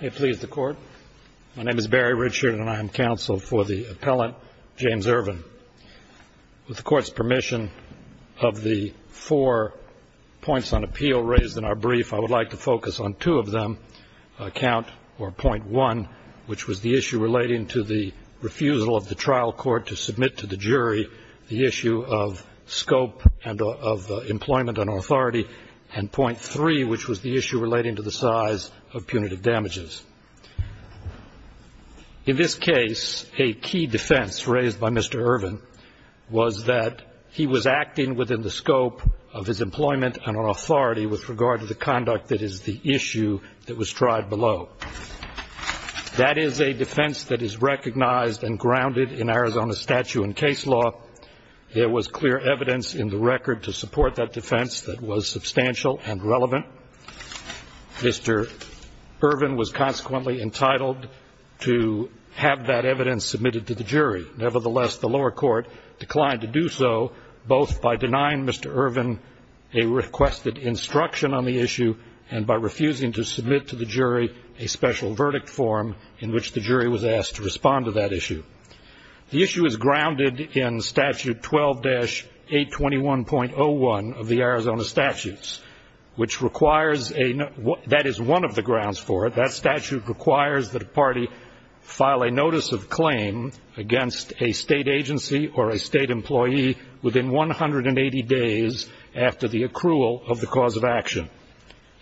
My name is Barry Richard and I am counsel for the appellant, James Irvin. With the Court's permission, of the four points on appeal raised in our brief, I would like to focus on two of them. Count or point one, which was the issue relating to the refusal of the trial court to submit to the jury the issue of scope and of employment and authority, and point three, which was the issue relating to the size of punitive damages. In this case, a key defense raised by Mr. Irvin was that he was acting within the scope of his employment and on authority with regard to the conduct that is the issue that was tried below. That is a defense that is recognized and grounded in Arizona statute and case law. There was clear evidence in the record to support that defense that was substantial and relevant. Mr. Irvin was consequently entitled to have that evidence submitted to the jury. Nevertheless, the lower court declined to do so, both by denying Mr. Irvin a requested instruction on the issue and by refusing to submit to the jury a special verdict form in which the jury was asked to respond to that issue. The issue is grounded in statute 12-821.01 of the Arizona statutes, which requires a ñ that is one of the grounds for it. That statute requires that a party file a notice of claim against a state agency or a state employee within 180 days after the accrual of the cause of action.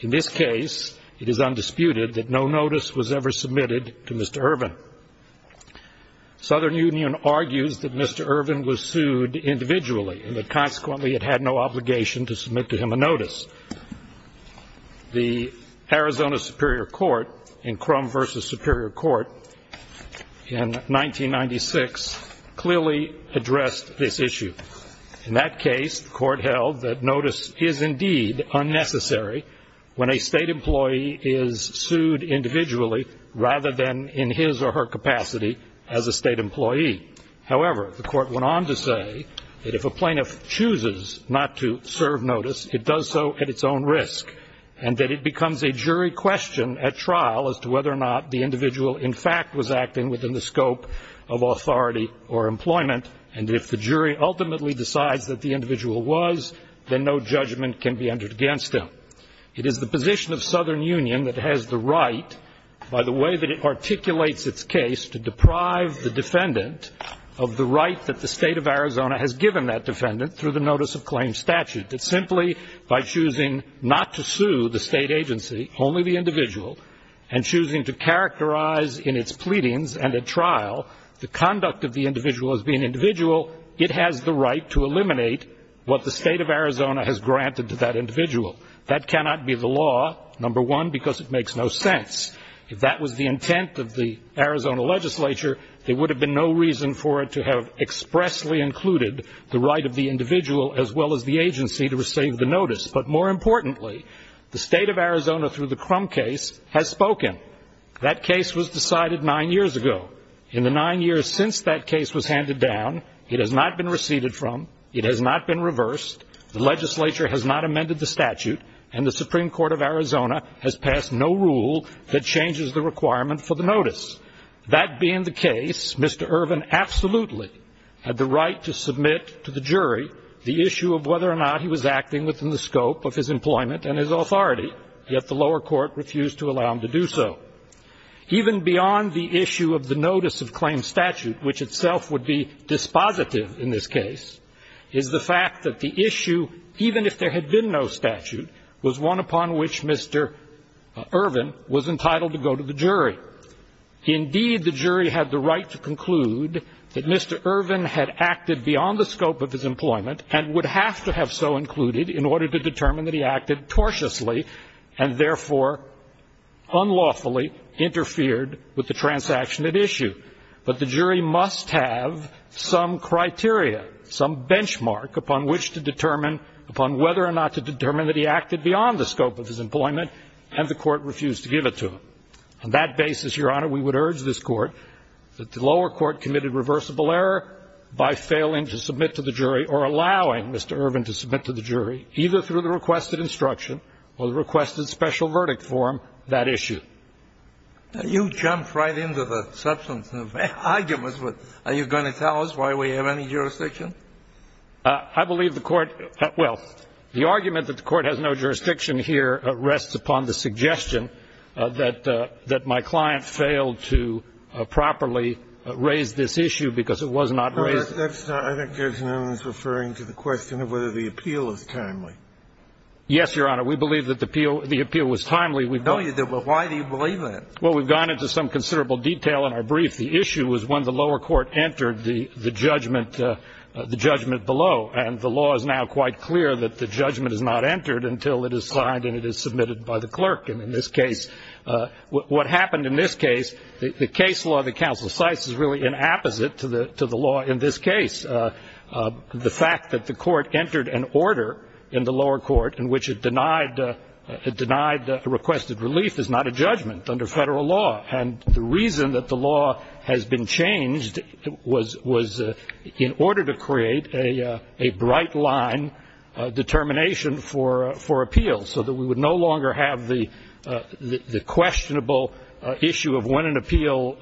In this case, it is undisputed that no notice was ever submitted to Mr. Irvin. The Southern Union argues that Mr. Irvin was sued individually and that consequently it had no obligation to submit to him a notice. The Arizona Superior Court in Crum v. Superior Court in 1996 clearly addressed this issue. In that case, the court held that notice is indeed unnecessary when a state employee is sued individually rather than in his or her capacity as a state employee. However, the court went on to say that if a plaintiff chooses not to serve notice, it does so at its own risk and that it becomes a jury question at trial as to whether or not the individual, in fact, was acting within the scope of authority or employment, and if the jury ultimately decides that the individual was, then no judgment can be entered against him. It is the position of Southern Union that has the right, by the way that it articulates its case, to deprive the defendant of the right that the State of Arizona has given that defendant through the notice of claim statute, that simply by choosing not to sue the state agency, only the individual, and choosing to characterize in its pleadings and at trial the conduct of the individual as being individual, it has the right to eliminate what the State of Arizona has granted to that individual. That cannot be the law, number one, because it makes no sense. If that was the intent of the Arizona legislature, there would have been no reason for it to have expressly included the right of the individual as well as the agency to receive the notice. But more importantly, the State of Arizona through the Crum case has spoken. That case was decided nine years ago. In the nine years since that case was handed down, it has not been receded from, it has not been reversed, the legislature has not amended the statute, and the Supreme Court of Arizona has passed no rule that changes the requirement for the notice. That being the case, Mr. Irvin absolutely had the right to submit to the jury the issue of whether or not he was acting within the scope of his employment and his authority, yet the lower court refused to allow him to do so. Even beyond the issue of the notice of claim statute, which itself would be dispositive in this case, is the fact that the issue, even if there had been no statute, was one upon which Mr. Irvin was entitled to go to the jury. Indeed, the jury had the right to conclude that Mr. Irvin had acted beyond the scope of his employment and would have to have so included in order to determine that he acted tortiously and therefore unlawfully interfered with the transaction at issue. But the jury must have some criteria, some benchmark upon which to determine, upon whether or not to determine that he acted beyond the scope of his employment, and the court refused to give it to him. On that basis, Your Honor, we would urge this court that the lower court committed reversible error by failing to submit to the jury or allowing Mr. Irvin to submit to the jury, either through the requested instruction or the requested special verdict form, that issue. You jumped right into the substance of arguments. Are you going to tell us why we have any jurisdiction? I believe the Court has no jurisdiction here rests upon the suggestion that my client failed to properly raise this issue because it was not raised. I think there's an onus referring to the question of whether the appeal is timely. Yes, Your Honor. We believe that the appeal was timely. No, you didn't, but why do you believe that? Well, we've gone into some considerable detail in our brief. The issue was when the lower court entered the judgment below, and the law is now quite clear that the judgment is not entered until it is signed and it is submitted by the clerk. And in this case, what happened in this case, the case law that counsel cites is really an apposite to the law in this case. The fact that the court entered an order in the lower court in which it denied requested relief is not a judgment under federal law. And the reason that the law has been changed was in order to create a bright line determination for appeal so that we would no longer have the questionable issue of when an appeal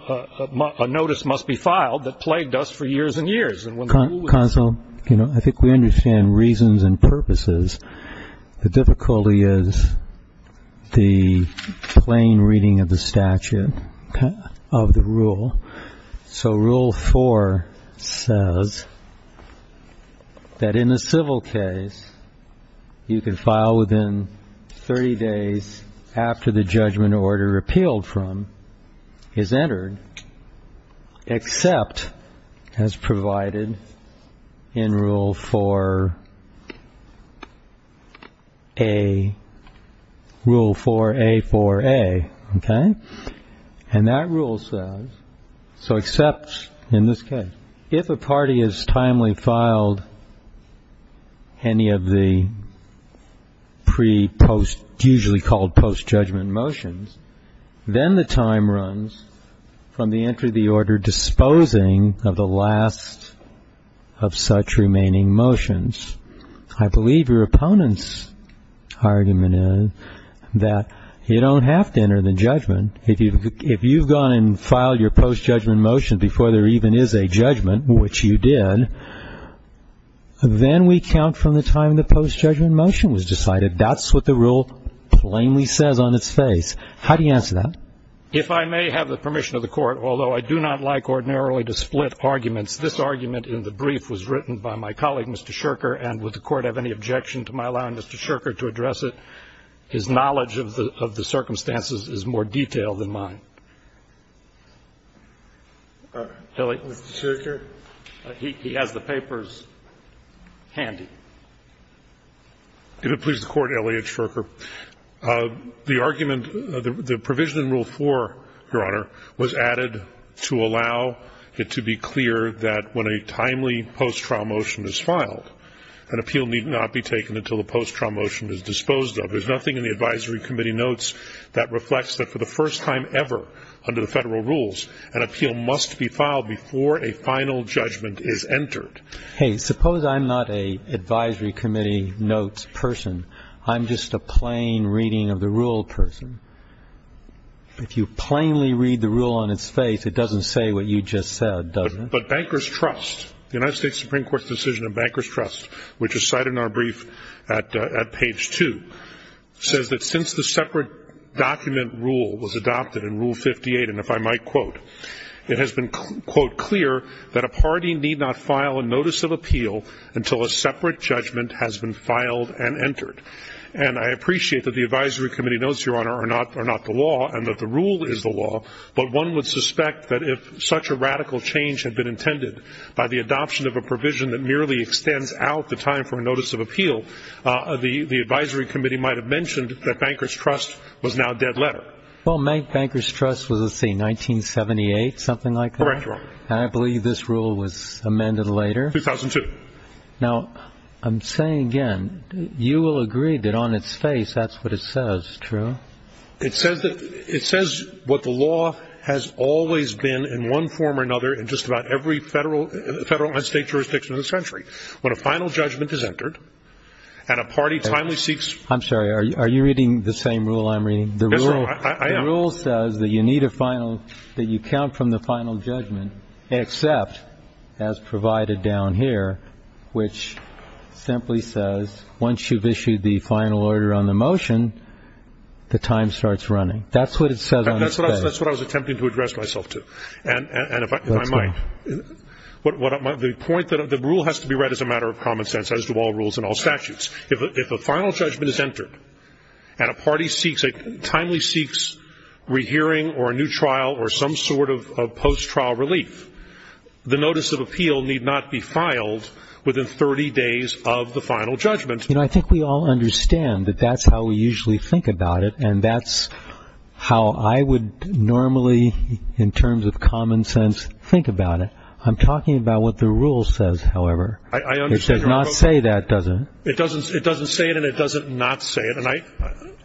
notice must be filed that plagued us for years and years. Counsel, I think we understand reasons and purposes. The difficulty is the plain reading of the statute of the rule. So rule four says that in a civil case, you can file within 30 days after the judgment order repealed from is entered, except as provided in rule four A, rule four A, four A. And that rule says, so except in this case, if a party has timely filed any of the pre-post, usually called post-judgment motions, then the time runs from the entry of the order disposing of the last of such remaining motions. I believe your opponent's argument is that you don't have to enter the judgment. If you've gone and filed your post-judgment motion before there even is a judgment, which you did, then we count from the time the post-judgment motion was decided. That's what the rule plainly says on its face. How do you answer that? If I may have the permission of the court, although I do not like ordinarily to split arguments, this argument in the brief was written by my colleague, Mr. Scherker. And would the court have any objection to my allowing Mr. Scherker to address it? His knowledge of the circumstances is more detailed than mine. Mr. Scherker? He has the papers handy. If it pleases the Court, Elliot Scherker, the argument, the provision in rule four, your Honor, was added to allow it to be clear that when a timely post-trial motion is filed, an appeal need not be taken until the post-trial motion is disposed of. There's nothing in the advisory committee notes that reflects that for the first time ever under the Federal rules, an appeal must be filed before a final judgment is entered. Hey, suppose I'm not an advisory committee notes person. I'm just a plain reading of the rule person. If you plainly read the rule on its face, it doesn't say what you just said, does it? But Bankers Trust, the United States Supreme Court's decision of Bankers Trust, which is cited in our brief at page two, says that since the separate document rule was adopted in rule 58, and if I might quote, it has been, quote, clear that a party need not file a notice of appeal until a separate judgment has been filed and entered. And I appreciate that the advisory committee notes, your Honor, are not the law and that the rule is the law, but one would suspect that if such a radical change had been intended by the adoption of a provision that merely extends out the time for a notice of appeal, the advisory committee might have mentioned that Bankers Trust was now a dead letter. Well, Bankers Trust was, let's see, 1978, something like that? Correct, Your Honor. And I believe this rule was amended later. 2002. Now, I'm saying again, you will agree that on its face that's what it says, true? It says what the law has always been in one form or another in just about every federal and state jurisdiction of the century. When a final judgment is entered and a party timely seeks. I'm sorry, are you reading the same rule I'm reading? Yes, sir, I am. The rule says that you need a final, that you count from the final judgment, except as provided down here, which simply says once you've issued the final order on the motion, the time starts running. That's what it says on its face. That's what I was attempting to address myself to. And if I might, the point that the rule has to be read as a matter of common sense, as do all rules and all statutes. If a final judgment is entered and a party seeks, rehearing or a new trial or some sort of post-trial relief, the notice of appeal need not be filed within 30 days of the final judgment. And I think we all understand that that's how we usually think about it. And that's how I would normally, in terms of common sense, think about it. I'm talking about what the rule says, however. I understand. It does not say that, does it? It doesn't say it and it doesn't not say it.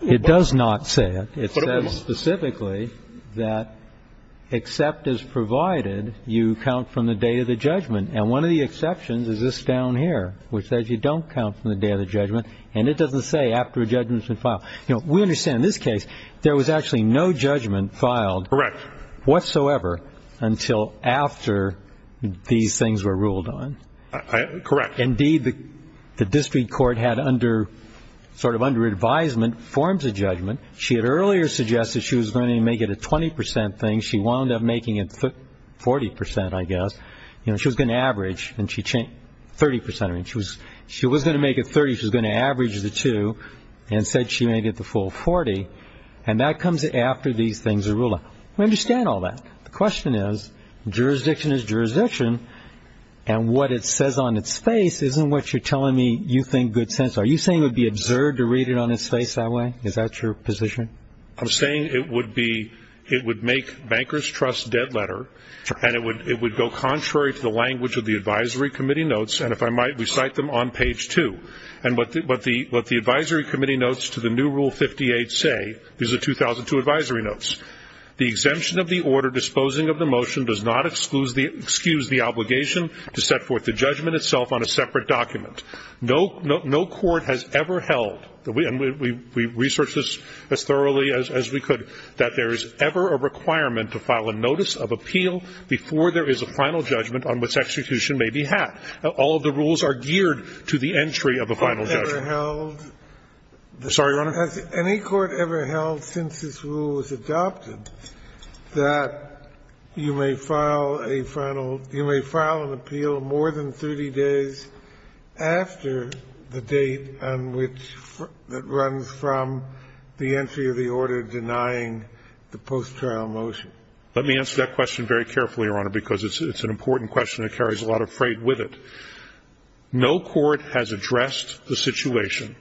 It does not say it. It says specifically that except as provided, you count from the day of the judgment. And one of the exceptions is this down here, which says you don't count from the day of the judgment. And it doesn't say after a judgment has been filed. You know, we understand in this case there was actually no judgment filed. Correct. Whatsoever until after these things were ruled on. Correct. Indeed, the district court had under, sort of under advisement, forms a judgment. She had earlier suggested she was going to make it a 20 percent thing. She wound up making it 40 percent, I guess. You know, she was going to average and she changed 30 percent. She was going to make it 30. She was going to average the two and said she made it the full 40. And that comes after these things are ruled on. We understand all that. The question is jurisdiction is jurisdiction. And what it says on its face isn't what you're telling me you think good sense. Are you saying it would be absurd to read it on its face that way? Is that your position? I'm saying it would be, it would make bankers' trust dead letter. And it would go contrary to the language of the advisory committee notes. And if I might, we cite them on page two. And what the advisory committee notes to the new Rule 58 say, these are 2002 advisory notes. The exemption of the order disposing of the motion does not excuse the obligation to set forth the judgment itself on a separate document. No court has ever held, and we researched this as thoroughly as we could, that there is ever a requirement to file a notice of appeal before there is a final judgment on which execution may be had. All of the rules are geared to the entry of a final judgment. I'm sorry, Your Honor? Has any court ever held since this rule was adopted that you may file a final, you know, after the date on which, that runs from the entry of the order denying the post-trial motion? Let me answer that question very carefully, Your Honor, because it's an important question that carries a lot of freight with it. No court has addressed the situation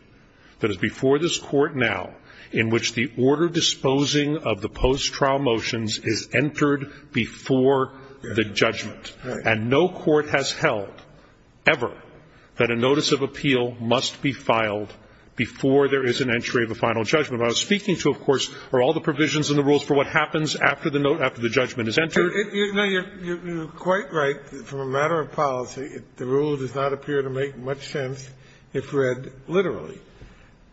that is before this Court now in which the order disposing of the post-trial motions is entered before the judgment. And no court has held ever that a notice of appeal must be filed before there is an entry of a final judgment. What I was speaking to, of course, are all the provisions in the rules for what happens after the note, after the judgment is entered. You know, you're quite right. From a matter of policy, the rule does not appear to make much sense if read literally.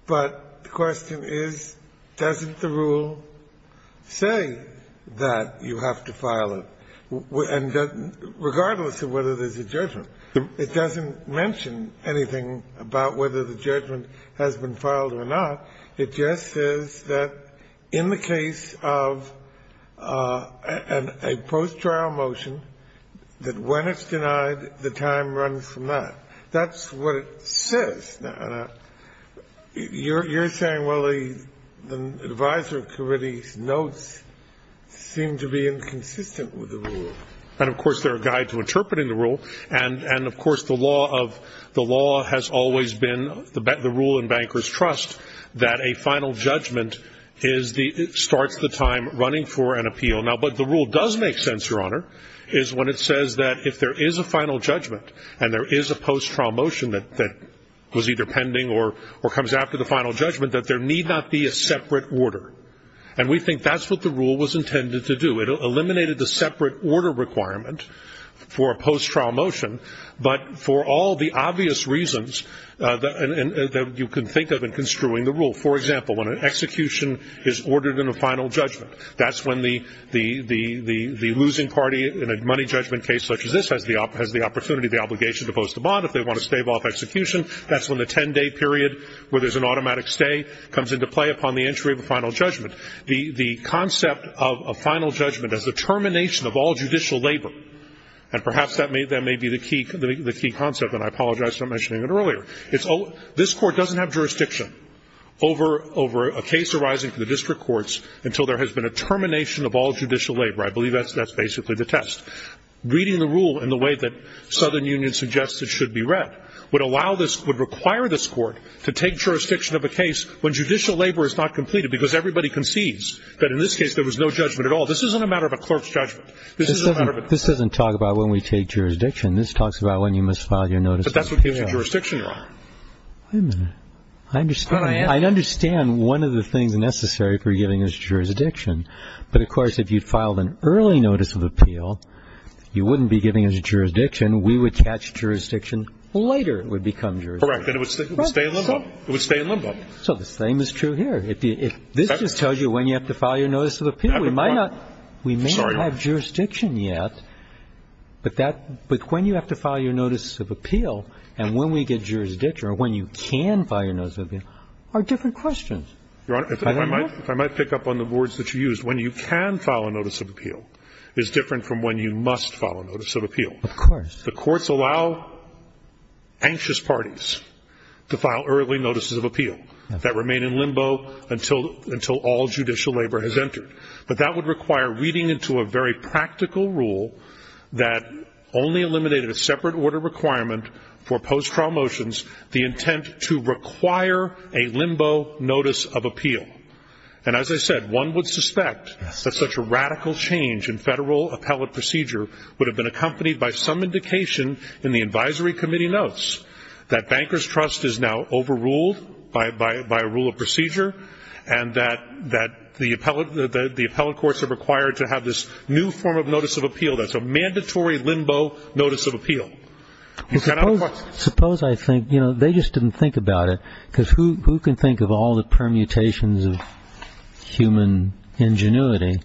But the question is, doesn't the rule say that you have to file it? And regardless of whether there's a judgment, it doesn't mention anything about whether the judgment has been filed or not. It just says that in the case of a post-trial motion, that when it's denied, the time runs from that. That's what it says. And you're saying, well, the advisory committee's notes seem to be inconsistent with the rule. And, of course, they're a guide to interpreting the rule. And, of course, the law of the law has always been the rule in bankers' trust that a final judgment starts the time running for an appeal. Now, but the rule does make sense, Your Honor, is when it says that if there is a final motion that was either pending or comes after the final judgment, that there need not be a separate order. And we think that's what the rule was intended to do. It eliminated the separate order requirement for a post-trial motion, but for all the obvious reasons that you can think of in construing the rule. For example, when an execution is ordered in a final judgment, that's when the losing party in a money judgment case such as this has the opportunity, the obligation to post a bond if they want to stave off execution. That's when the 10-day period where there's an automatic stay comes into play upon the entry of a final judgment. The concept of a final judgment as a termination of all judicial labor, and perhaps that may be the key concept, and I apologize for not mentioning it earlier. This Court doesn't have jurisdiction over a case arising from the district courts until there has been a termination of all judicial labor. I believe that's basically the test. Reading the rule in the way that Southern Union suggests it should be read would allow this, would require this Court to take jurisdiction of a case when judicial labor is not completed, because everybody concedes that in this case there was no judgment at all. This isn't a matter of a clerk's judgment. This is a matter of a clerk's judgment. This doesn't talk about when we take jurisdiction. This talks about when you must file your notice of appeal. But that's what gives you jurisdiction, Your Honor. Wait a minute. I understand. I understand one of the things necessary for giving us jurisdiction. But, of course, if you filed an early notice of appeal, you wouldn't be giving us jurisdiction. We would catch jurisdiction later it would become jurisdiction. Correct. And it would stay in limbo. It would stay in limbo. So the same is true here. This just tells you when you have to file your notice of appeal. We might not. Sorry, Your Honor. We may not have jurisdiction yet, but when you have to file your notice of appeal and when we get jurisdiction or when you can file your notice of appeal are different Your Honor, if I might pick up on the words that you used, when you can file a notice of appeal is different from when you must file a notice of appeal. Of course. The courts allow anxious parties to file early notices of appeal that remain in limbo until all judicial labor has entered. But that would require reading into a very practical rule that only eliminated a separate order requirement for post-trial motions, the intent to require a limbo notice of appeal. And as I said, one would suspect that such a radical change in federal appellate procedure would have been accompanied by some indication in the advisory committee notes that bankers' trust is now overruled by a rule of procedure and that the appellate courts are required to have this new form of notice of appeal that's a mandatory limbo notice of appeal. Suppose I think, you know, they just didn't think about it because who can think of all the permutations of human ingenuity?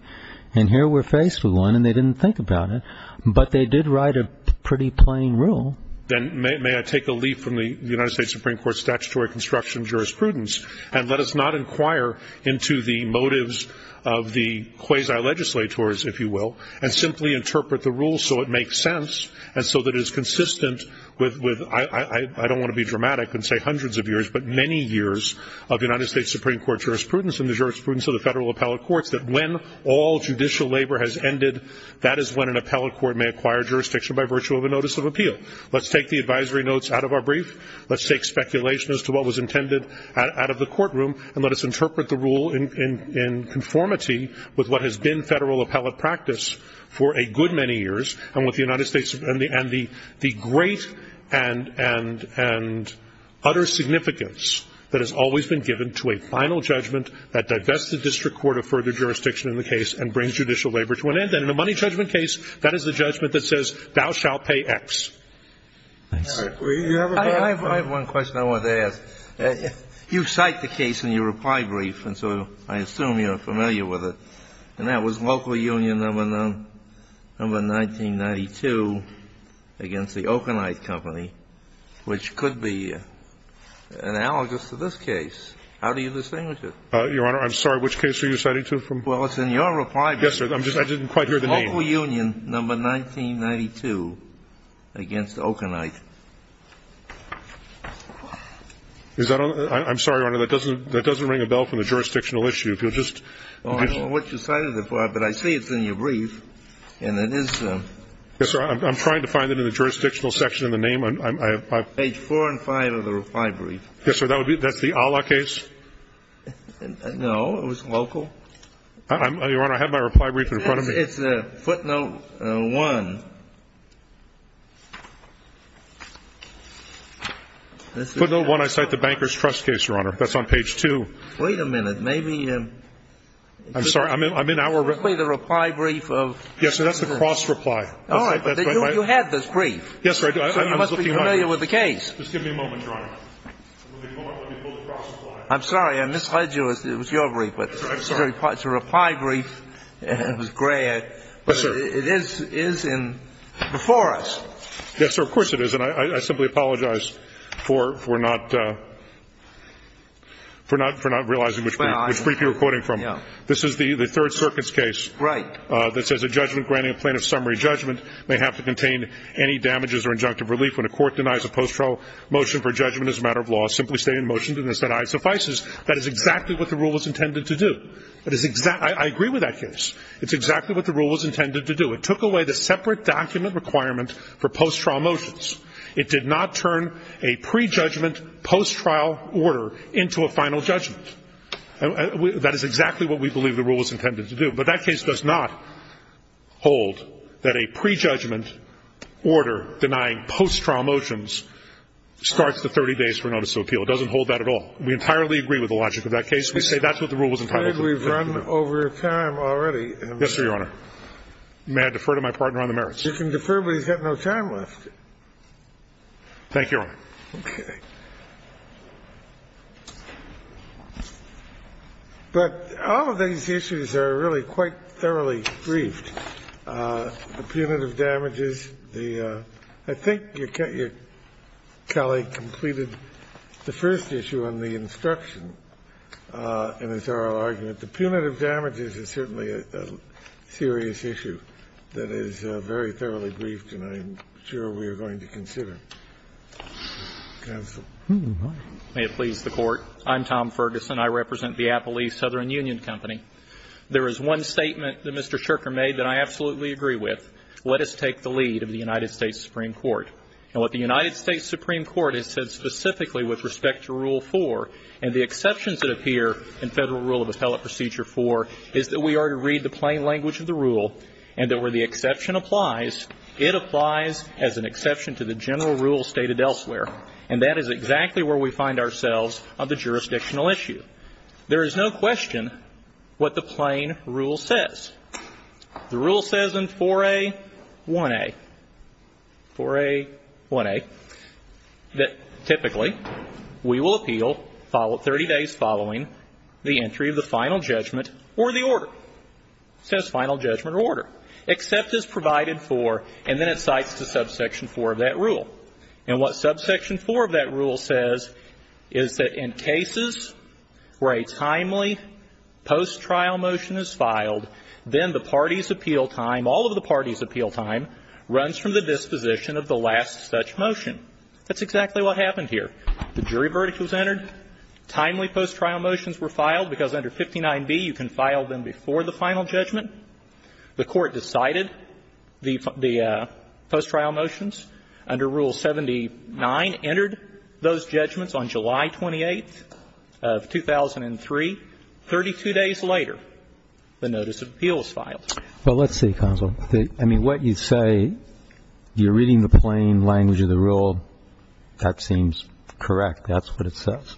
And here we're faced with one and they didn't think about it. But they did write a pretty plain rule. Then may I take a leaf from the United States Supreme Court's statutory construction jurisprudence and let us not inquire into the motives of the quasi-legislators, if you will, and simply interpret the rule so it makes sense and so that it is consistent with, I don't want to be dramatic and say hundreds of years, but many years of United States Supreme Court jurisprudence and the jurisprudence of the federal appellate courts that when all judicial labor has ended, that is when an appellate court may acquire jurisdiction by virtue of a notice of appeal. Let's take the advisory notes out of our brief. Let's take speculation as to what was intended out of the courtroom and let us interpret the rule in conformity with what has been federal appellate practice for a good many years and with the United States and the great and utter significance that has always been given to a final judgment that divests the district court of further jurisdiction in the case and brings judicial labor to an end. And in a money judgment case, that is the judgment that says thou shalt pay X. I have one question I want to ask. You cite the case in your reply brief, and so I assume you're familiar with it. And that was local union number 1992 against the Okanite Company, which could be analogous to this case. How do you distinguish it? Your Honor, I'm sorry. Which case are you citing to from? Well, it's in your reply brief. Yes, sir. I didn't quite hear the name. Local union number 1992 against Okanite. I'm sorry, Your Honor. That doesn't ring a bell from the jurisdictional issue. I don't know what you cited it for, but I see it's in your brief, and it is. Yes, sir. I'm trying to find it in the jurisdictional section in the name. Page 4 and 5 of the reply brief. Yes, sir. That's the Allah case? No. It was local. Your Honor, I have my reply brief in front of me. It's footnote 1. Footnote 1, I cite the Banker's Trust case, Your Honor. That's on page 2. Wait a minute. Maybe. I'm sorry. I'm in our. The reply brief of. Yes, sir. That's the cross-reply. All right. You had this brief. Yes, sir. You must be familiar with the case. Just give me a moment, Your Honor. I'm sorry. I misled you. It was your brief. It's a reply brief. It was gray. Yes, sir. It is before us. Yes, sir. Of course it is. And I simply apologize for not realizing which brief you're quoting from. This is the Third Circuit's case. Right. That says, A judgment granting a plaintiff's summary judgment may have to contain any damages or injunctive relief when a court denies a post-trial motion for judgment as a matter of law simply state in motion to this that I suffice. That is exactly what the rule was intended to do. That is exactly. I agree with that case. It's exactly what the rule was intended to do. It took away the separate document requirement for post-trial motions. It did not turn a prejudgment post-trial order into a final judgment. That is exactly what we believe the rule was intended to do. But that case does not hold that a prejudgment order denying post-trial motions starts the 30 days for notice of appeal. It doesn't hold that at all. We entirely agree with the logic of that case. We say that's what the rule was intended to do. Thank you, Your Honor. We've run over time already. Yes, sir, Your Honor. May I defer to my partner on the merits? You can defer, but he's got no time left. Thank you, Your Honor. Okay. But all of these issues are really quite thoroughly briefed. The punitive damages, the – I think Kelly completed the first issue on the instruction and a thorough argument. The punitive damages is certainly a serious issue that is very thoroughly briefed and I'm sure we are going to consider. Counsel. May it please the Court. I'm Tom Ferguson. I represent the Appalease Southern Union Company. There is one statement that Mr. Sherker made that I absolutely agree with. Let us take the lead of the United States Supreme Court. And what the United States Supreme Court has said specifically with respect to Rule 4 and the exceptions that appear in Federal Rule of Appellate Procedure 4 is that we are to read the plain language of the rule and that where the exception applies, it applies as an exception to the general rule stated elsewhere. And that is exactly where we find ourselves on the jurisdictional issue. There is no question what the plain rule says. The rule says in 4A1A, 4A1A, that typically we will appeal 30 days following the entry of the final judgment or the order. It says final judgment or order. Except is provided for and then it cites the subsection 4 of that rule. And what subsection 4 of that rule says is that in cases where a timely post-trial motion is filed, then the party's appeal time, all of the party's appeal time, runs from the disposition of the last such motion. That's exactly what happened here. The jury verdict was entered. Timely post-trial motions were filed because under 59B you can file them before the final judgment. The Court decided the post-trial motions under Rule 79 entered those judgments on July 28th of 2003. Thirty-two days later, the notice of appeal was filed. Well, let's see, Counsel. I mean, what you say, you're reading the plain language of the rule. That seems correct. That's what it says.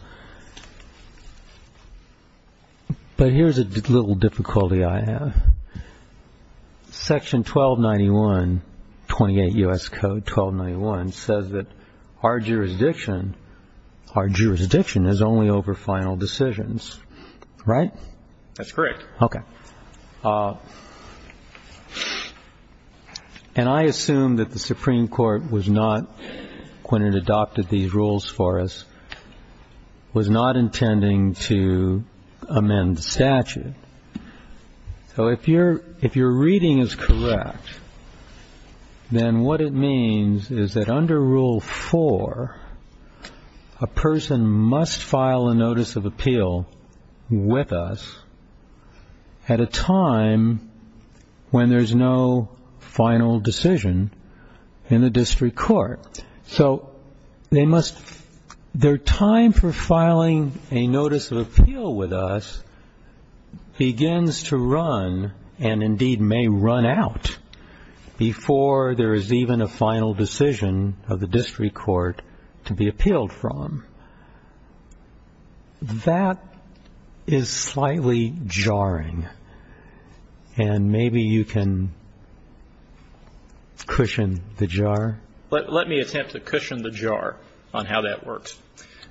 But here's a little difficulty I have. Section 1291, 28 U.S. Code 1291, says that our jurisdiction is only over final decisions. Right? That's correct. Okay. And I assume that the Supreme Court was not, when it adopted these rules for us, was not intending to amend the statute. So if your reading is correct, then what it means is that under Rule 4, a person must file a notice of appeal with us at a time when there's no final decision in the district court. So they must, their time for filing a notice of appeal with us begins to run and indeed may run out before there is even a final decision of the district court to be appealed from. That is slightly jarring. And maybe you can cushion the jar. Let me attempt to cushion the jar on how that works.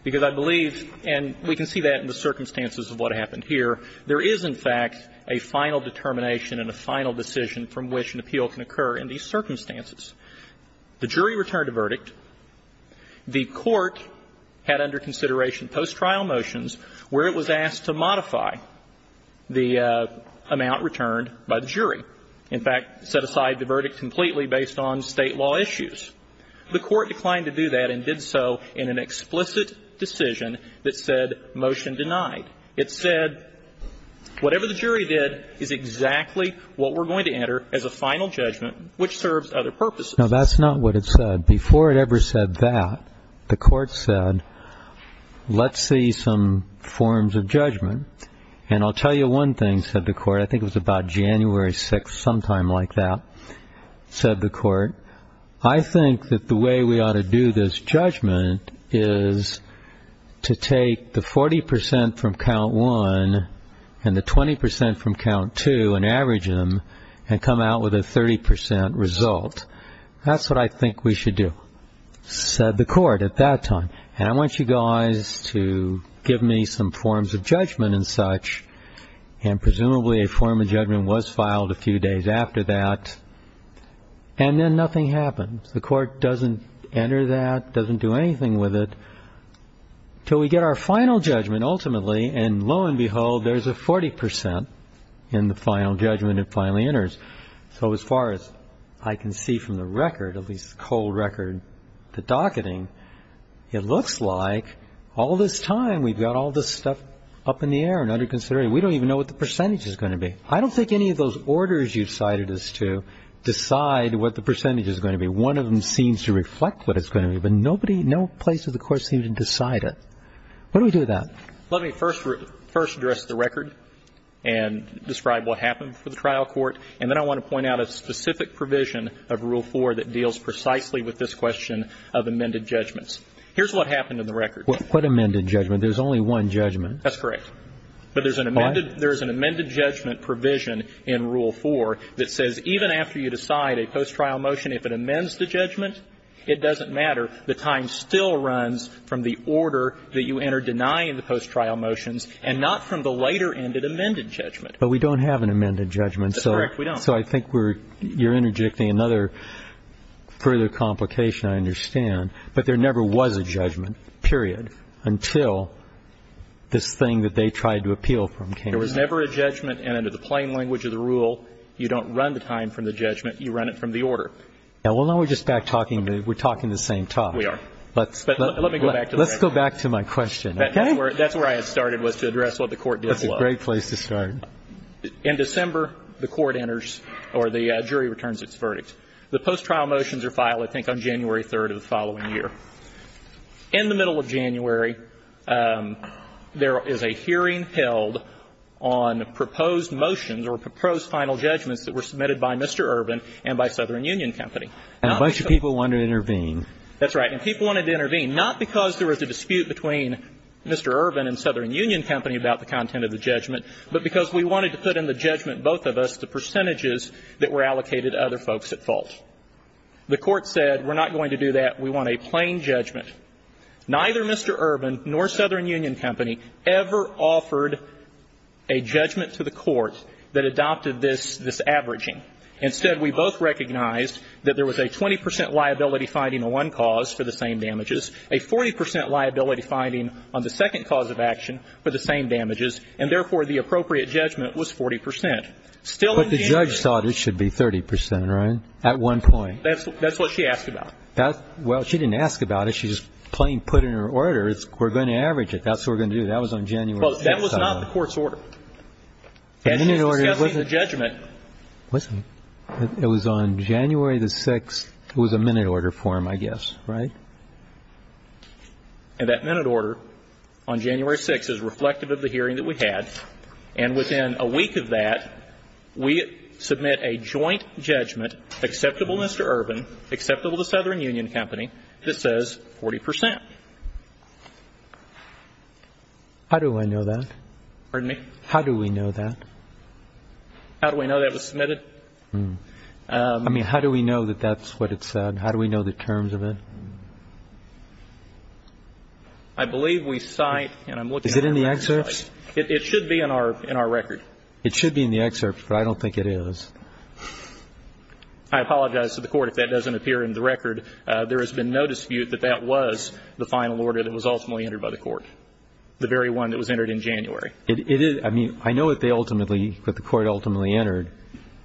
Because I believe, and we can see that in the circumstances of what happened here, there is in fact a final determination and a final decision from which an appeal can occur in these circumstances. The jury returned a verdict. The court had under consideration post-trial motions where it was asked to modify the amount returned by the jury. In fact, set aside the verdict completely based on State law issues. The court declined to do that and did so in an explicit decision that said, motion denied. It said, whatever the jury did is exactly what we're going to enter as a final judgment which serves other purposes. Now, that's not what it said. Before it ever said that, the court said, let's see some forms of judgment. And I'll tell you one thing, said the court. I think it was about January 6th, sometime like that, said the court. I think that the way we ought to do this judgment is to take the 40% from count one and the 20% from count two and average them and come out with a 30% result. That's what I think we should do, said the court at that time. And I want you guys to give me some forms of judgment and such. And presumably a form of judgment was filed a few days after that. And then nothing happens. The court doesn't enter that, doesn't do anything with it, until we get our final judgment ultimately. And lo and behold, there's a 40% in the final judgment it finally enters. So as far as I can see from the record, at least the cold record, the docketing, it looks like all this time we've got all this stuff up in the air and we don't even know what the percentage is going to be. I don't think any of those orders you cited is to decide what the percentage is going to be. One of them seems to reflect what it's going to be. But no place does the court seem to decide it. What do we do with that? Let me first address the record and describe what happened for the trial court. And then I want to point out a specific provision of Rule 4 that deals precisely with this question of amended judgments. Here's what happened in the record. What amended judgment? There's only one judgment. That's correct. But there's an amended judgment provision in Rule 4 that says even after you decide a post-trial motion, if it amends the judgment, it doesn't matter. The time still runs from the order that you enter denying the post-trial motions and not from the later ended amended judgment. But we don't have an amended judgment. That's correct. We don't. So I think you're interjecting another further complication, I understand. But there never was a judgment, period, until this thing that they tried to appeal from came up. There was never a judgment. And under the plain language of the rule, you don't run the time from the judgment. You run it from the order. Yeah. Well, now we're just back talking. We're talking the same talk. We are. But let me go back to the record. Let's go back to my question. Okay? That's where I had started was to address what the court did below. That's a great place to start. In December, the court enters or the jury returns its verdict. The post-trial motions are filed, I think, on January 3rd of the following year. In the middle of January, there is a hearing held on proposed motions or proposed final judgments that were submitted by Mr. Urban and by Southern Union Company. And a bunch of people wanted to intervene. That's right. And people wanted to intervene, not because there was a dispute between Mr. Urban and Southern Union Company about the content of the judgment, but because we wanted to put in the judgment, both of us, the percentages that were allocated to other folks at fault. The court said, we're not going to do that. We want a plain judgment. Neither Mr. Urban nor Southern Union Company ever offered a judgment to the court that adopted this averaging. Instead, we both recognized that there was a 20 percent liability finding on one cause for the same damages, a 40 percent liability finding on the second cause of action for the same damages. And therefore, the appropriate judgment was 40 percent. Still in January. But the judge thought it should be 30 percent, right, at one point? That's what she asked about. Well, she didn't ask about it. She just plain put in her order, we're going to average it. That's what we're going to do. That was on January 5th. Well, that was not the court's order. The minute order wasn't. That's just discussing the judgment. It wasn't. It was on January the 6th. It was a minute order form, I guess. Right? And that minute order on January 6th is reflective of the hearing that we had. And within a week of that, we submit a joint judgment, acceptable Mr. Urban, acceptable to Southern Union Company, that says 40 percent. How do I know that? Pardon me? How do we know that? How do I know that was submitted? I mean, how do we know that that's what it said? How do we know the terms of it? I believe we cite, and I'm looking at the record. Is it in the excerpts? It should be in our record. It should be in the excerpts, but I don't think it is. I apologize to the court if that doesn't appear in the record. There has been no dispute that that was the final order that was ultimately entered by the court, the very one that was entered in January. It is. I mean, I know that they ultimately, that the court ultimately entered,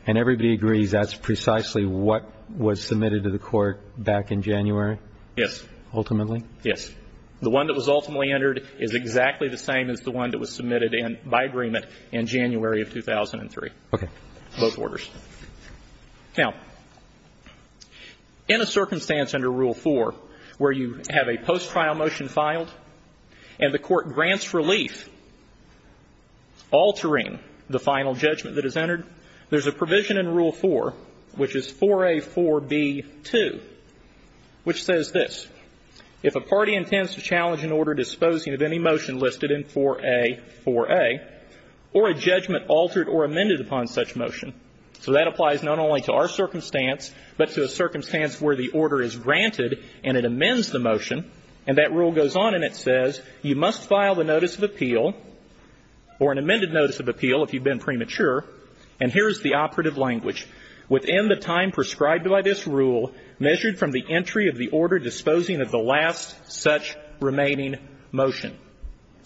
and everybody agrees that's precisely what was submitted to the court back in January? Yes. Ultimately? Yes. The one that was ultimately entered is exactly the same as the one that was submitted by agreement in January of 2003. Okay. Both orders. Now, in a circumstance under Rule 4 where you have a post-trial motion filed and the court grants relief, altering the final judgment that is entered, there's a provision in Rule 4, which is 4A4B2, which says this. If a party intends to challenge an order disposing of any motion listed in 4A4A or a judgment altered or amended upon such motion, so that applies not only to our circumstance but to a circumstance where the order is granted and it amends the motion, and that rule goes on and it says, you must file the notice of appeal or an amended notice of appeal if you've been premature. And here's the operative language. Within the time prescribed by this rule measured from the entry of the order disposing of the last such remaining motion.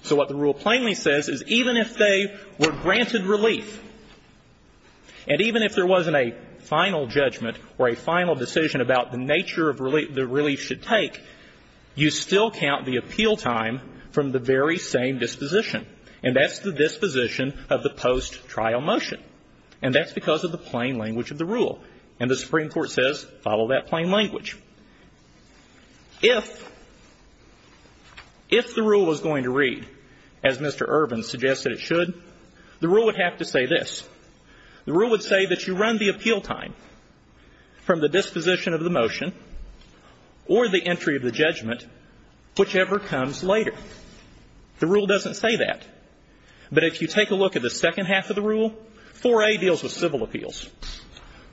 So what the rule plainly says is even if they were granted relief and even if there relief should take, you still count the appeal time from the very same disposition. And that's the disposition of the post-trial motion. And that's because of the plain language of the rule. And the Supreme Court says follow that plain language. If, if the rule is going to read as Mr. Irvin suggested it should, the rule would have to say this. The rule would say that you run the appeal time from the disposition of the motion or the entry of the judgment, whichever comes later. The rule doesn't say that. But if you take a look at the second half of the rule, 4A deals with civil appeals.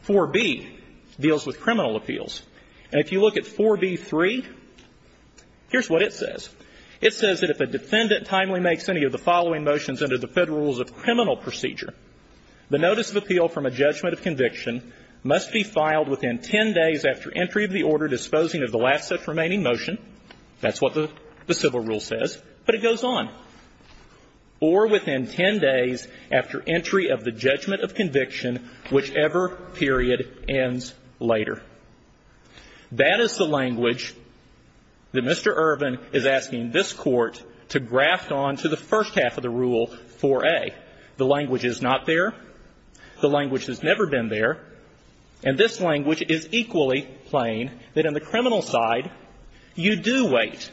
4B deals with criminal appeals. And if you look at 4B3, here's what it says. It says that if a defendant timely makes any of the following motions under the Federal Rules of Criminal Procedure, the notice of appeal from a judgment of conviction must be filed within ten days after entry of the order disposing of the last such remaining motion. That's what the civil rule says. But it goes on. Or within ten days after entry of the judgment of conviction, whichever period ends later. That is the language that Mr. Irvin is asking this Court to graft on to the first half of the rule 4A. The language is not there. The language has never been there. And this language is equally plain that in the criminal side, you do wait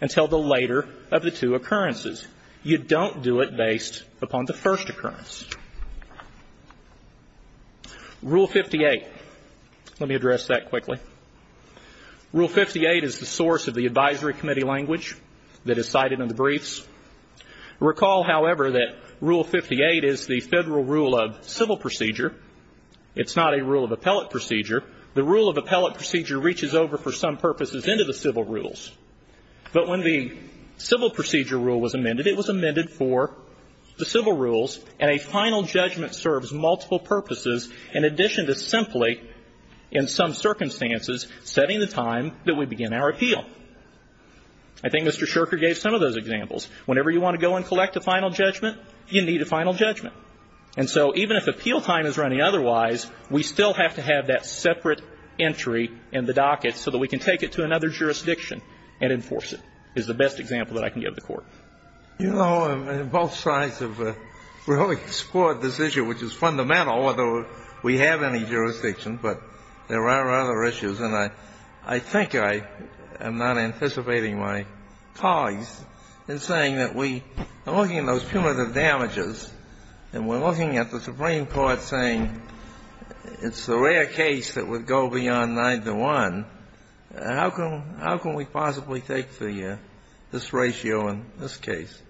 until the later of the two occurrences. You don't do it based upon the first occurrence. Rule 58. Let me address that quickly. Rule 58 is the source of the advisory committee language that is cited in the briefs. Recall, however, that Rule 58 is the Federal Rule of Civil Procedure. It's not a rule of appellate procedure. The rule of appellate procedure reaches over for some purposes into the civil rules. But when the civil procedure rule was amended, it was amended for the civil rules, and a final judgment serves multiple purposes in addition to simply, in some circumstances, setting the time that we begin our appeal. I think Mr. Sherker gave some of those examples. Whenever you want to go and collect a final judgment, you need a final judgment. And so even if appeal time is running otherwise, we still have to have that separate entry in the docket so that we can take it to another jurisdiction and enforce it, is the best example that I can give the Court. You know, both sides have really explored this issue, which is fundamental, although we have any jurisdiction, but there are other issues. And I think I am not anticipating my colleagues in saying that we are looking at those cumulative damages, and we're looking at the Supreme Court saying it's a rare case that would go beyond 9-1. How can we possibly take this ratio in this case?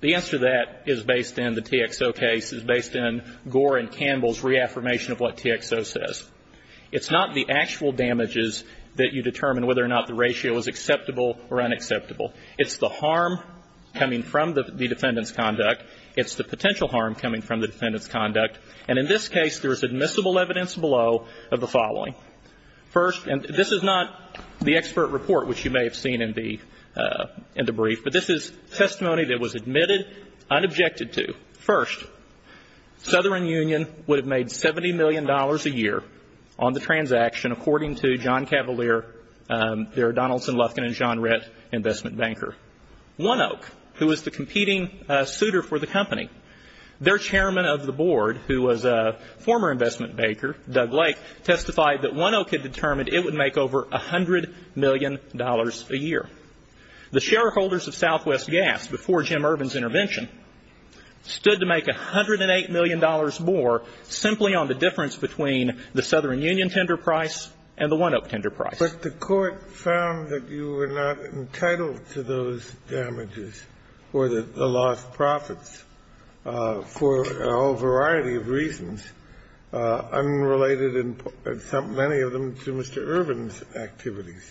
The answer to that is based in the TXO case, is based in Gore and Campbell's reaffirmation of what TXO says. It's not the actual damages that you determine whether or not the ratio is acceptable or unacceptable. It's the harm coming from the defendant's conduct. It's the potential harm coming from the defendant's conduct. And in this case, there is admissible evidence below of the following. First, and this is not the expert report, which you may have seen in the brief, but this is testimony that was admitted, unobjected to. First, Southern Union would have made $70 million a year on the transaction, according to John Cavalier, their Donaldson, Lufkin, and Jeanrette investment banker. One Oak, who was the competing suitor for the company, their chairman of the board, who was a former investment banker, Doug Lake, testified that One Oak had determined it would make over $100 million a year. The shareholders of Southwest Gas, before Jim Irvin's intervention, stood to make $108 million more simply on the difference between the Southern Union tender price and the One Oak tender price. But the Court found that you were not entitled to those damages or the lost profits for a whole variety of reasons, unrelated in many of them to Mr. Irvin's activities.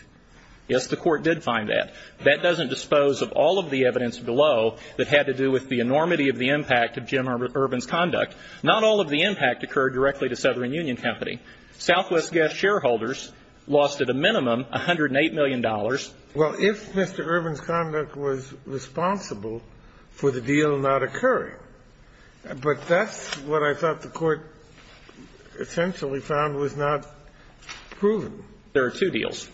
Yes, the Court did find that. That doesn't dispose of all of the evidence below that had to do with the enormity of the impact of Jim Irvin's conduct. Not all of the impact occurred directly to Southern Union Company. Southwest Gas shareholders lost at a minimum $108 million. Well, if Mr. Irvin's conduct was responsible for the deal not occurring, but that's what I thought the Court essentially found was not proven. There are two deals.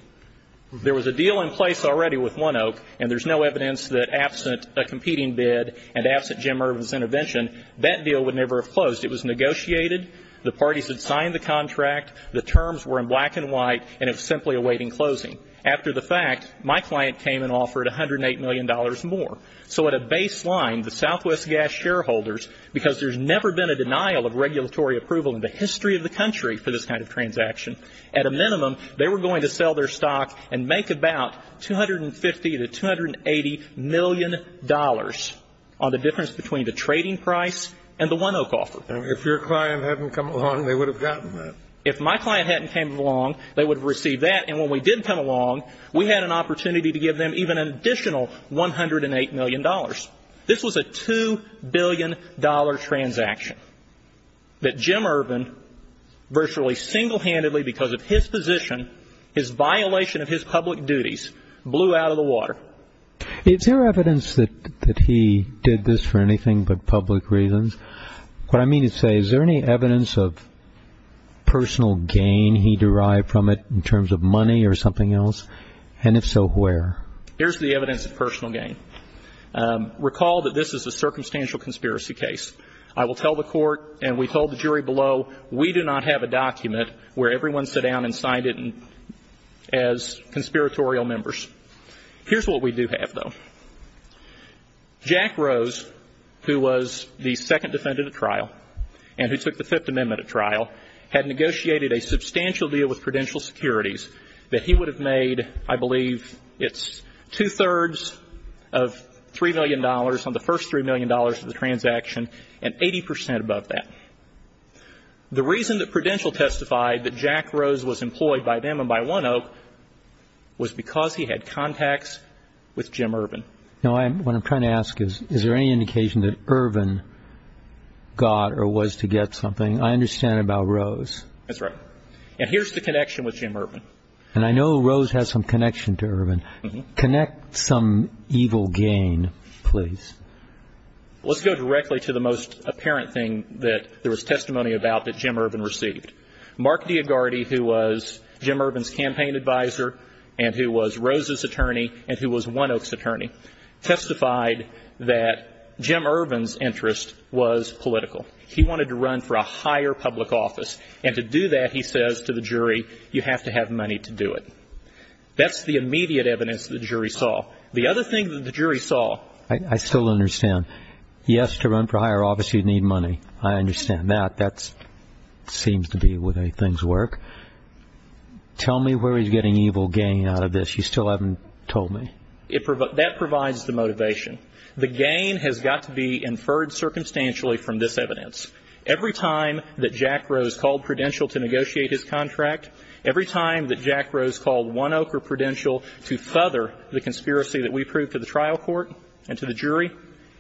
There was a deal in place already with One Oak, and there's no evidence that absent a competing bid and absent Jim Irvin's intervention, that deal would never have closed. It was negotiated. The parties had signed the contract. The terms were in black and white, and it was simply awaiting closing. After the fact, my client came and offered $108 million more. So at a baseline, the Southwest Gas shareholders, because there's never been a denial of regulatory approval in the history of the country for this kind of transaction, at a minimum, they were going to sell their stock and make about $250 to $280 million on the difference between the trading price and the One Oak offer. If your client hadn't come along, they would have gotten that. If my client hadn't come along, they would have received that. And when we did come along, we had an opportunity to give them even an additional $108 million. This was a $2 billion transaction that Jim Irvin virtually single-handedly, because of his position, his violation of his public duties, blew out of the water. Is there evidence that he did this for anything but public reasons? What I mean to say, is there any evidence of personal gain he derived from it in terms of money or something else? And if so, where? Here's the evidence of personal gain. Recall that this is a circumstantial conspiracy case. I will tell the court, and we told the jury below, we do not have a document where everyone sat down and signed it as conspiratorial members. Here's what we do have, though. Jack Rose, who was the second defendant at trial, and who took the Fifth Amendment at trial, had negotiated a substantial deal with Prudential Securities that he would have made, I believe it's two-thirds of $3 million on the first $3 million of the transaction, and 80% above that. The reason that Prudential testified that Jack Rose was employed by them and by One Oak was because he had contacts with Jim Irvin. Now, what I'm trying to ask is, is there any indication that Irvin got or was to get something? I understand about Rose. That's right. And here's the connection with Jim Irvin. And I know Rose has some connection to Irvin. Connect some evil gain, please. Let's go directly to the most apparent thing that there was testimony about that Jim Irvin received. Mark Diagardi, who was Jim Irvin's campaign advisor and who was Rose's attorney and who was One Oak's attorney, testified that Jim Irvin's interest was political. He wanted to run for a higher public office. And to do that, he says to the jury, you have to have money to do it. That's the immediate evidence the jury saw. The other thing that the jury saw. I still understand. He has to run for higher office. He'd need money. I understand that. That seems to be the way things work. Tell me where he's getting evil gain out of this. You still haven't told me. That provides the motivation. The gain has got to be inferred circumstantially from this evidence. Every time that Jack Rose called Prudential to negotiate his contract, every time that Jack Rose called One Oak or Prudential to feather the conspiracy that we proved to the trial court and to the jury,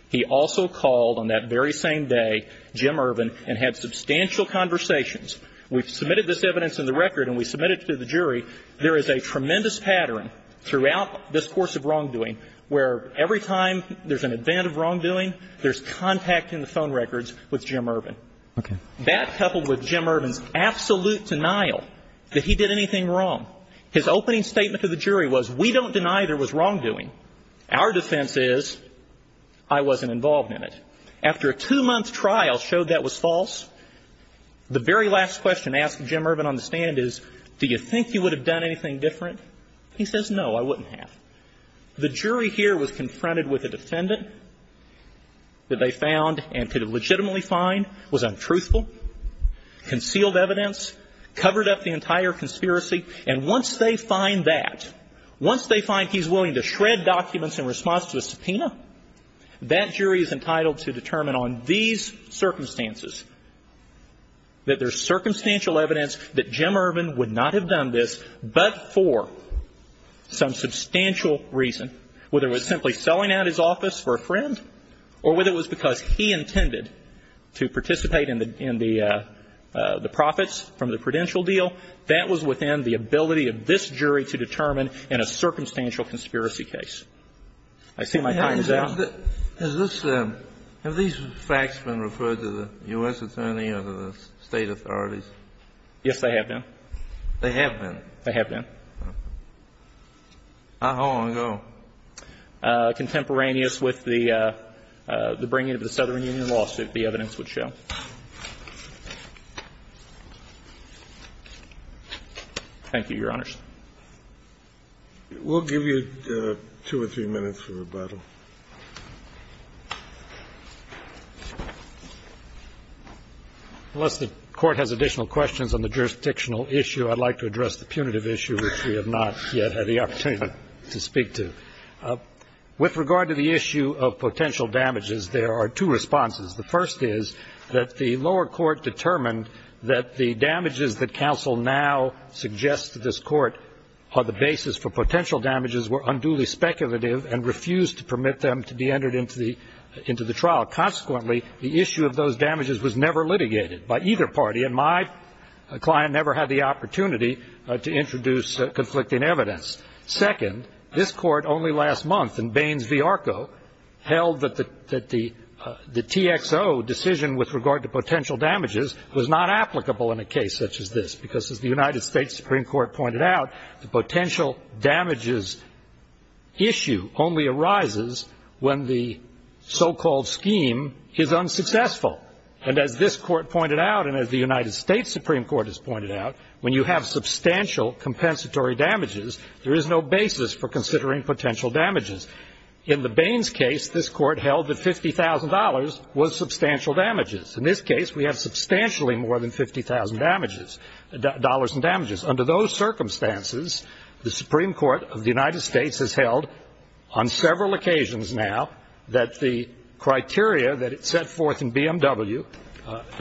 he also called on that very same day Jim Irvin and had substantial conversations. We've submitted this evidence in the record and we submitted it to the jury. There is a tremendous pattern throughout this course of wrongdoing where every time there's an event of wrongdoing, there's contact in the phone records with Jim Irvin. That coupled with Jim Irvin's absolute denial that he did anything wrong, his opening statement to the jury was, we don't deny there was wrongdoing. Our defense is I wasn't involved in it. After a two-month trial showed that was false, the very last question asked of Jim Irvin on the stand is, do you think you would have done anything different? He says, no, I wouldn't have. The jury here was confronted with a defendant that they found and could have legitimately find was untruthful, concealed evidence, covered up the entire conspiracy. And once they find that, once they find he's willing to shred documents in response to the subpoena, that jury is entitled to determine on these circumstances that there's circumstantial evidence that Jim Irvin would not have done this but for some substantial reason, whether it was simply selling out his office for a friend or whether it was because he intended to participate in the profits from the Prudential deal. That was within the ability of this jury to determine in a circumstantial conspiracy case. I see my time is up. Kennedy. Has this been, have these facts been referred to the U.S. Attorney or the State authorities? Yes, they have been. They have been? They have been. Okay. How long ago? Contemporaneous with the bringing of the Southern Union lawsuit, the evidence would show. Thank you, Your Honors. We'll give you two or three minutes for rebuttal. Unless the Court has additional questions on the jurisdictional issue, I'd like to address the punitive issue, which we have not yet had the opportunity to speak to. With regard to the issue of potential damages, there are two responses. The first is that the lower court determined that the damages that counsel now suggests to this Court are the basis for potential damages were unduly speculative and refused to permit them to be entered into the trial. Consequently, the issue of those damages was never litigated by either party, and my client never had the opportunity to introduce conflicting evidence. Second, this Court only last month in Baines v. Arco held that the TXO decision with regard to potential damages was not applicable in a case such as this, because as the United States Supreme Court pointed out, the potential damages issue only arises when the so-called scheme is unsuccessful. And as this Court pointed out, and as the United States Supreme Court has pointed out, when you have substantial compensatory damages, there is no basis for considering potential damages. In the Baines case, this Court held that $50,000 was substantial damages. In this case, we have substantially more than $50,000 in damages. Under those circumstances, the Supreme Court of the United States has held on several occasions now that the criteria that it set forth in BMW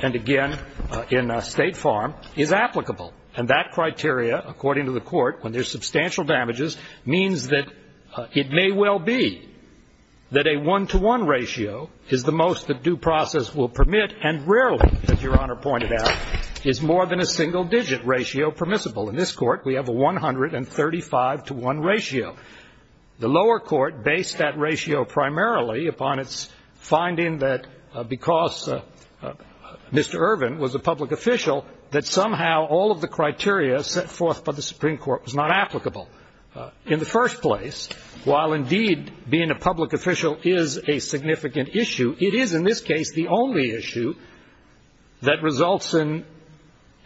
and, again, in State Farm is applicable. And that criteria, according to the Court, when there's substantial damages, means that it may well be that a one-to-one ratio is the most the due process will permit and rarely, as Your Honor pointed out, is more than a single-digit ratio permissible. In this Court, we have a 135-to-one ratio. The lower court based that ratio primarily upon its finding that because Mr. Irvin was a public official, that somehow all of the criteria set forth by the Supreme Court was not applicable. In the first place, while indeed being a public official is a significant issue, it is in this case the only issue that results in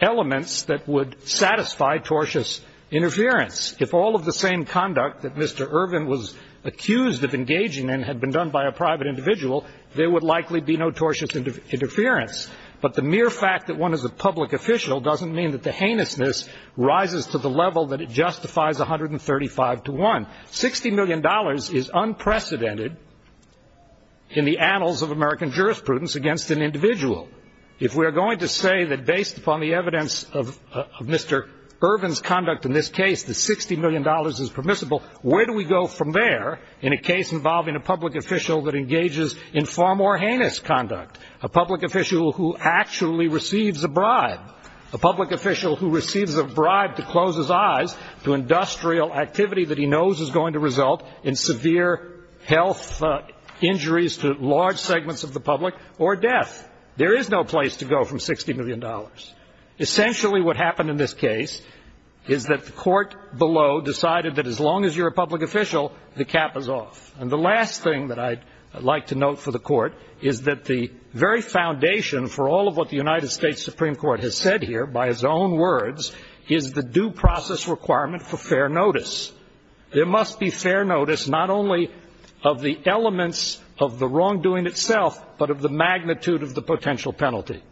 elements that would satisfy tortious interference. If all of the same conduct that Mr. Irvin was accused of engaging in had been done by a private individual, there would likely be no tortious interference. But the mere fact that one is a public official doesn't mean that the heinousness rises to the level that it justifies 135-to-one. $60 million is unprecedented in the annals of American jurisprudence against an individual. If we are going to say that based upon the evidence of Mr. Irvin's conduct in this case, that $60 million is permissible, where do we go from there in a case involving a public official that engages in far more heinous conduct, a public official who actually receives a bribe, a public official who receives a bribe to close his eyes to industrial activity that he knows is going to result in severe health injuries to large segments of the public or death? There is no place to go from $60 million. Essentially what happened in this case is that the court below decided that as long as you're a public official, the cap is off. And the last thing that I'd like to note for the court is that the very foundation for all of what the United States Supreme Court has said here, by its own words, is the due process requirement for fair notice. There must be fair notice not only of the elements of the wrongdoing itself, but of the magnitude of the potential penalty.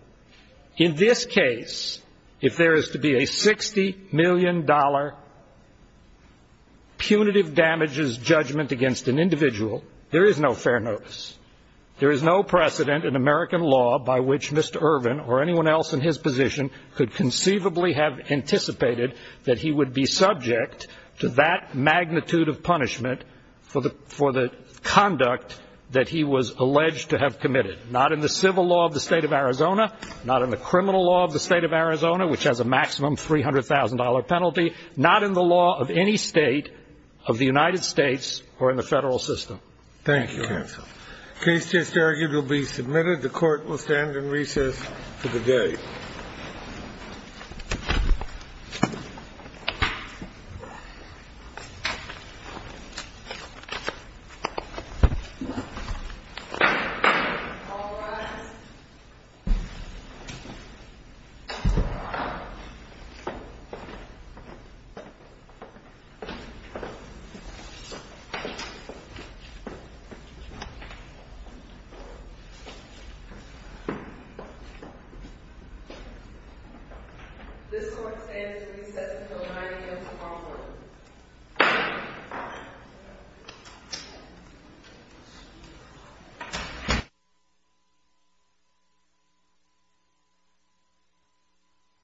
In this case, if there is to be a $60 million punitive damages judgment against an individual, there is no fair notice. There is no precedent in American law by which Mr. Irvin or anyone else in his position could conceivably have anticipated that he would be subject to that magnitude of punishment for the conduct that he was alleged to have committed, not in the civil law of the state of Arizona, not in the criminal law of the state of Arizona, which has a maximum $300,000 penalty, not in the law of any state of the United States or in the federal system. Thank you, counsel. Case just argued will be submitted. The court will stand in recess for the day. All rise. This court stands in recess until 9 a.m. tomorrow morning. Thank you.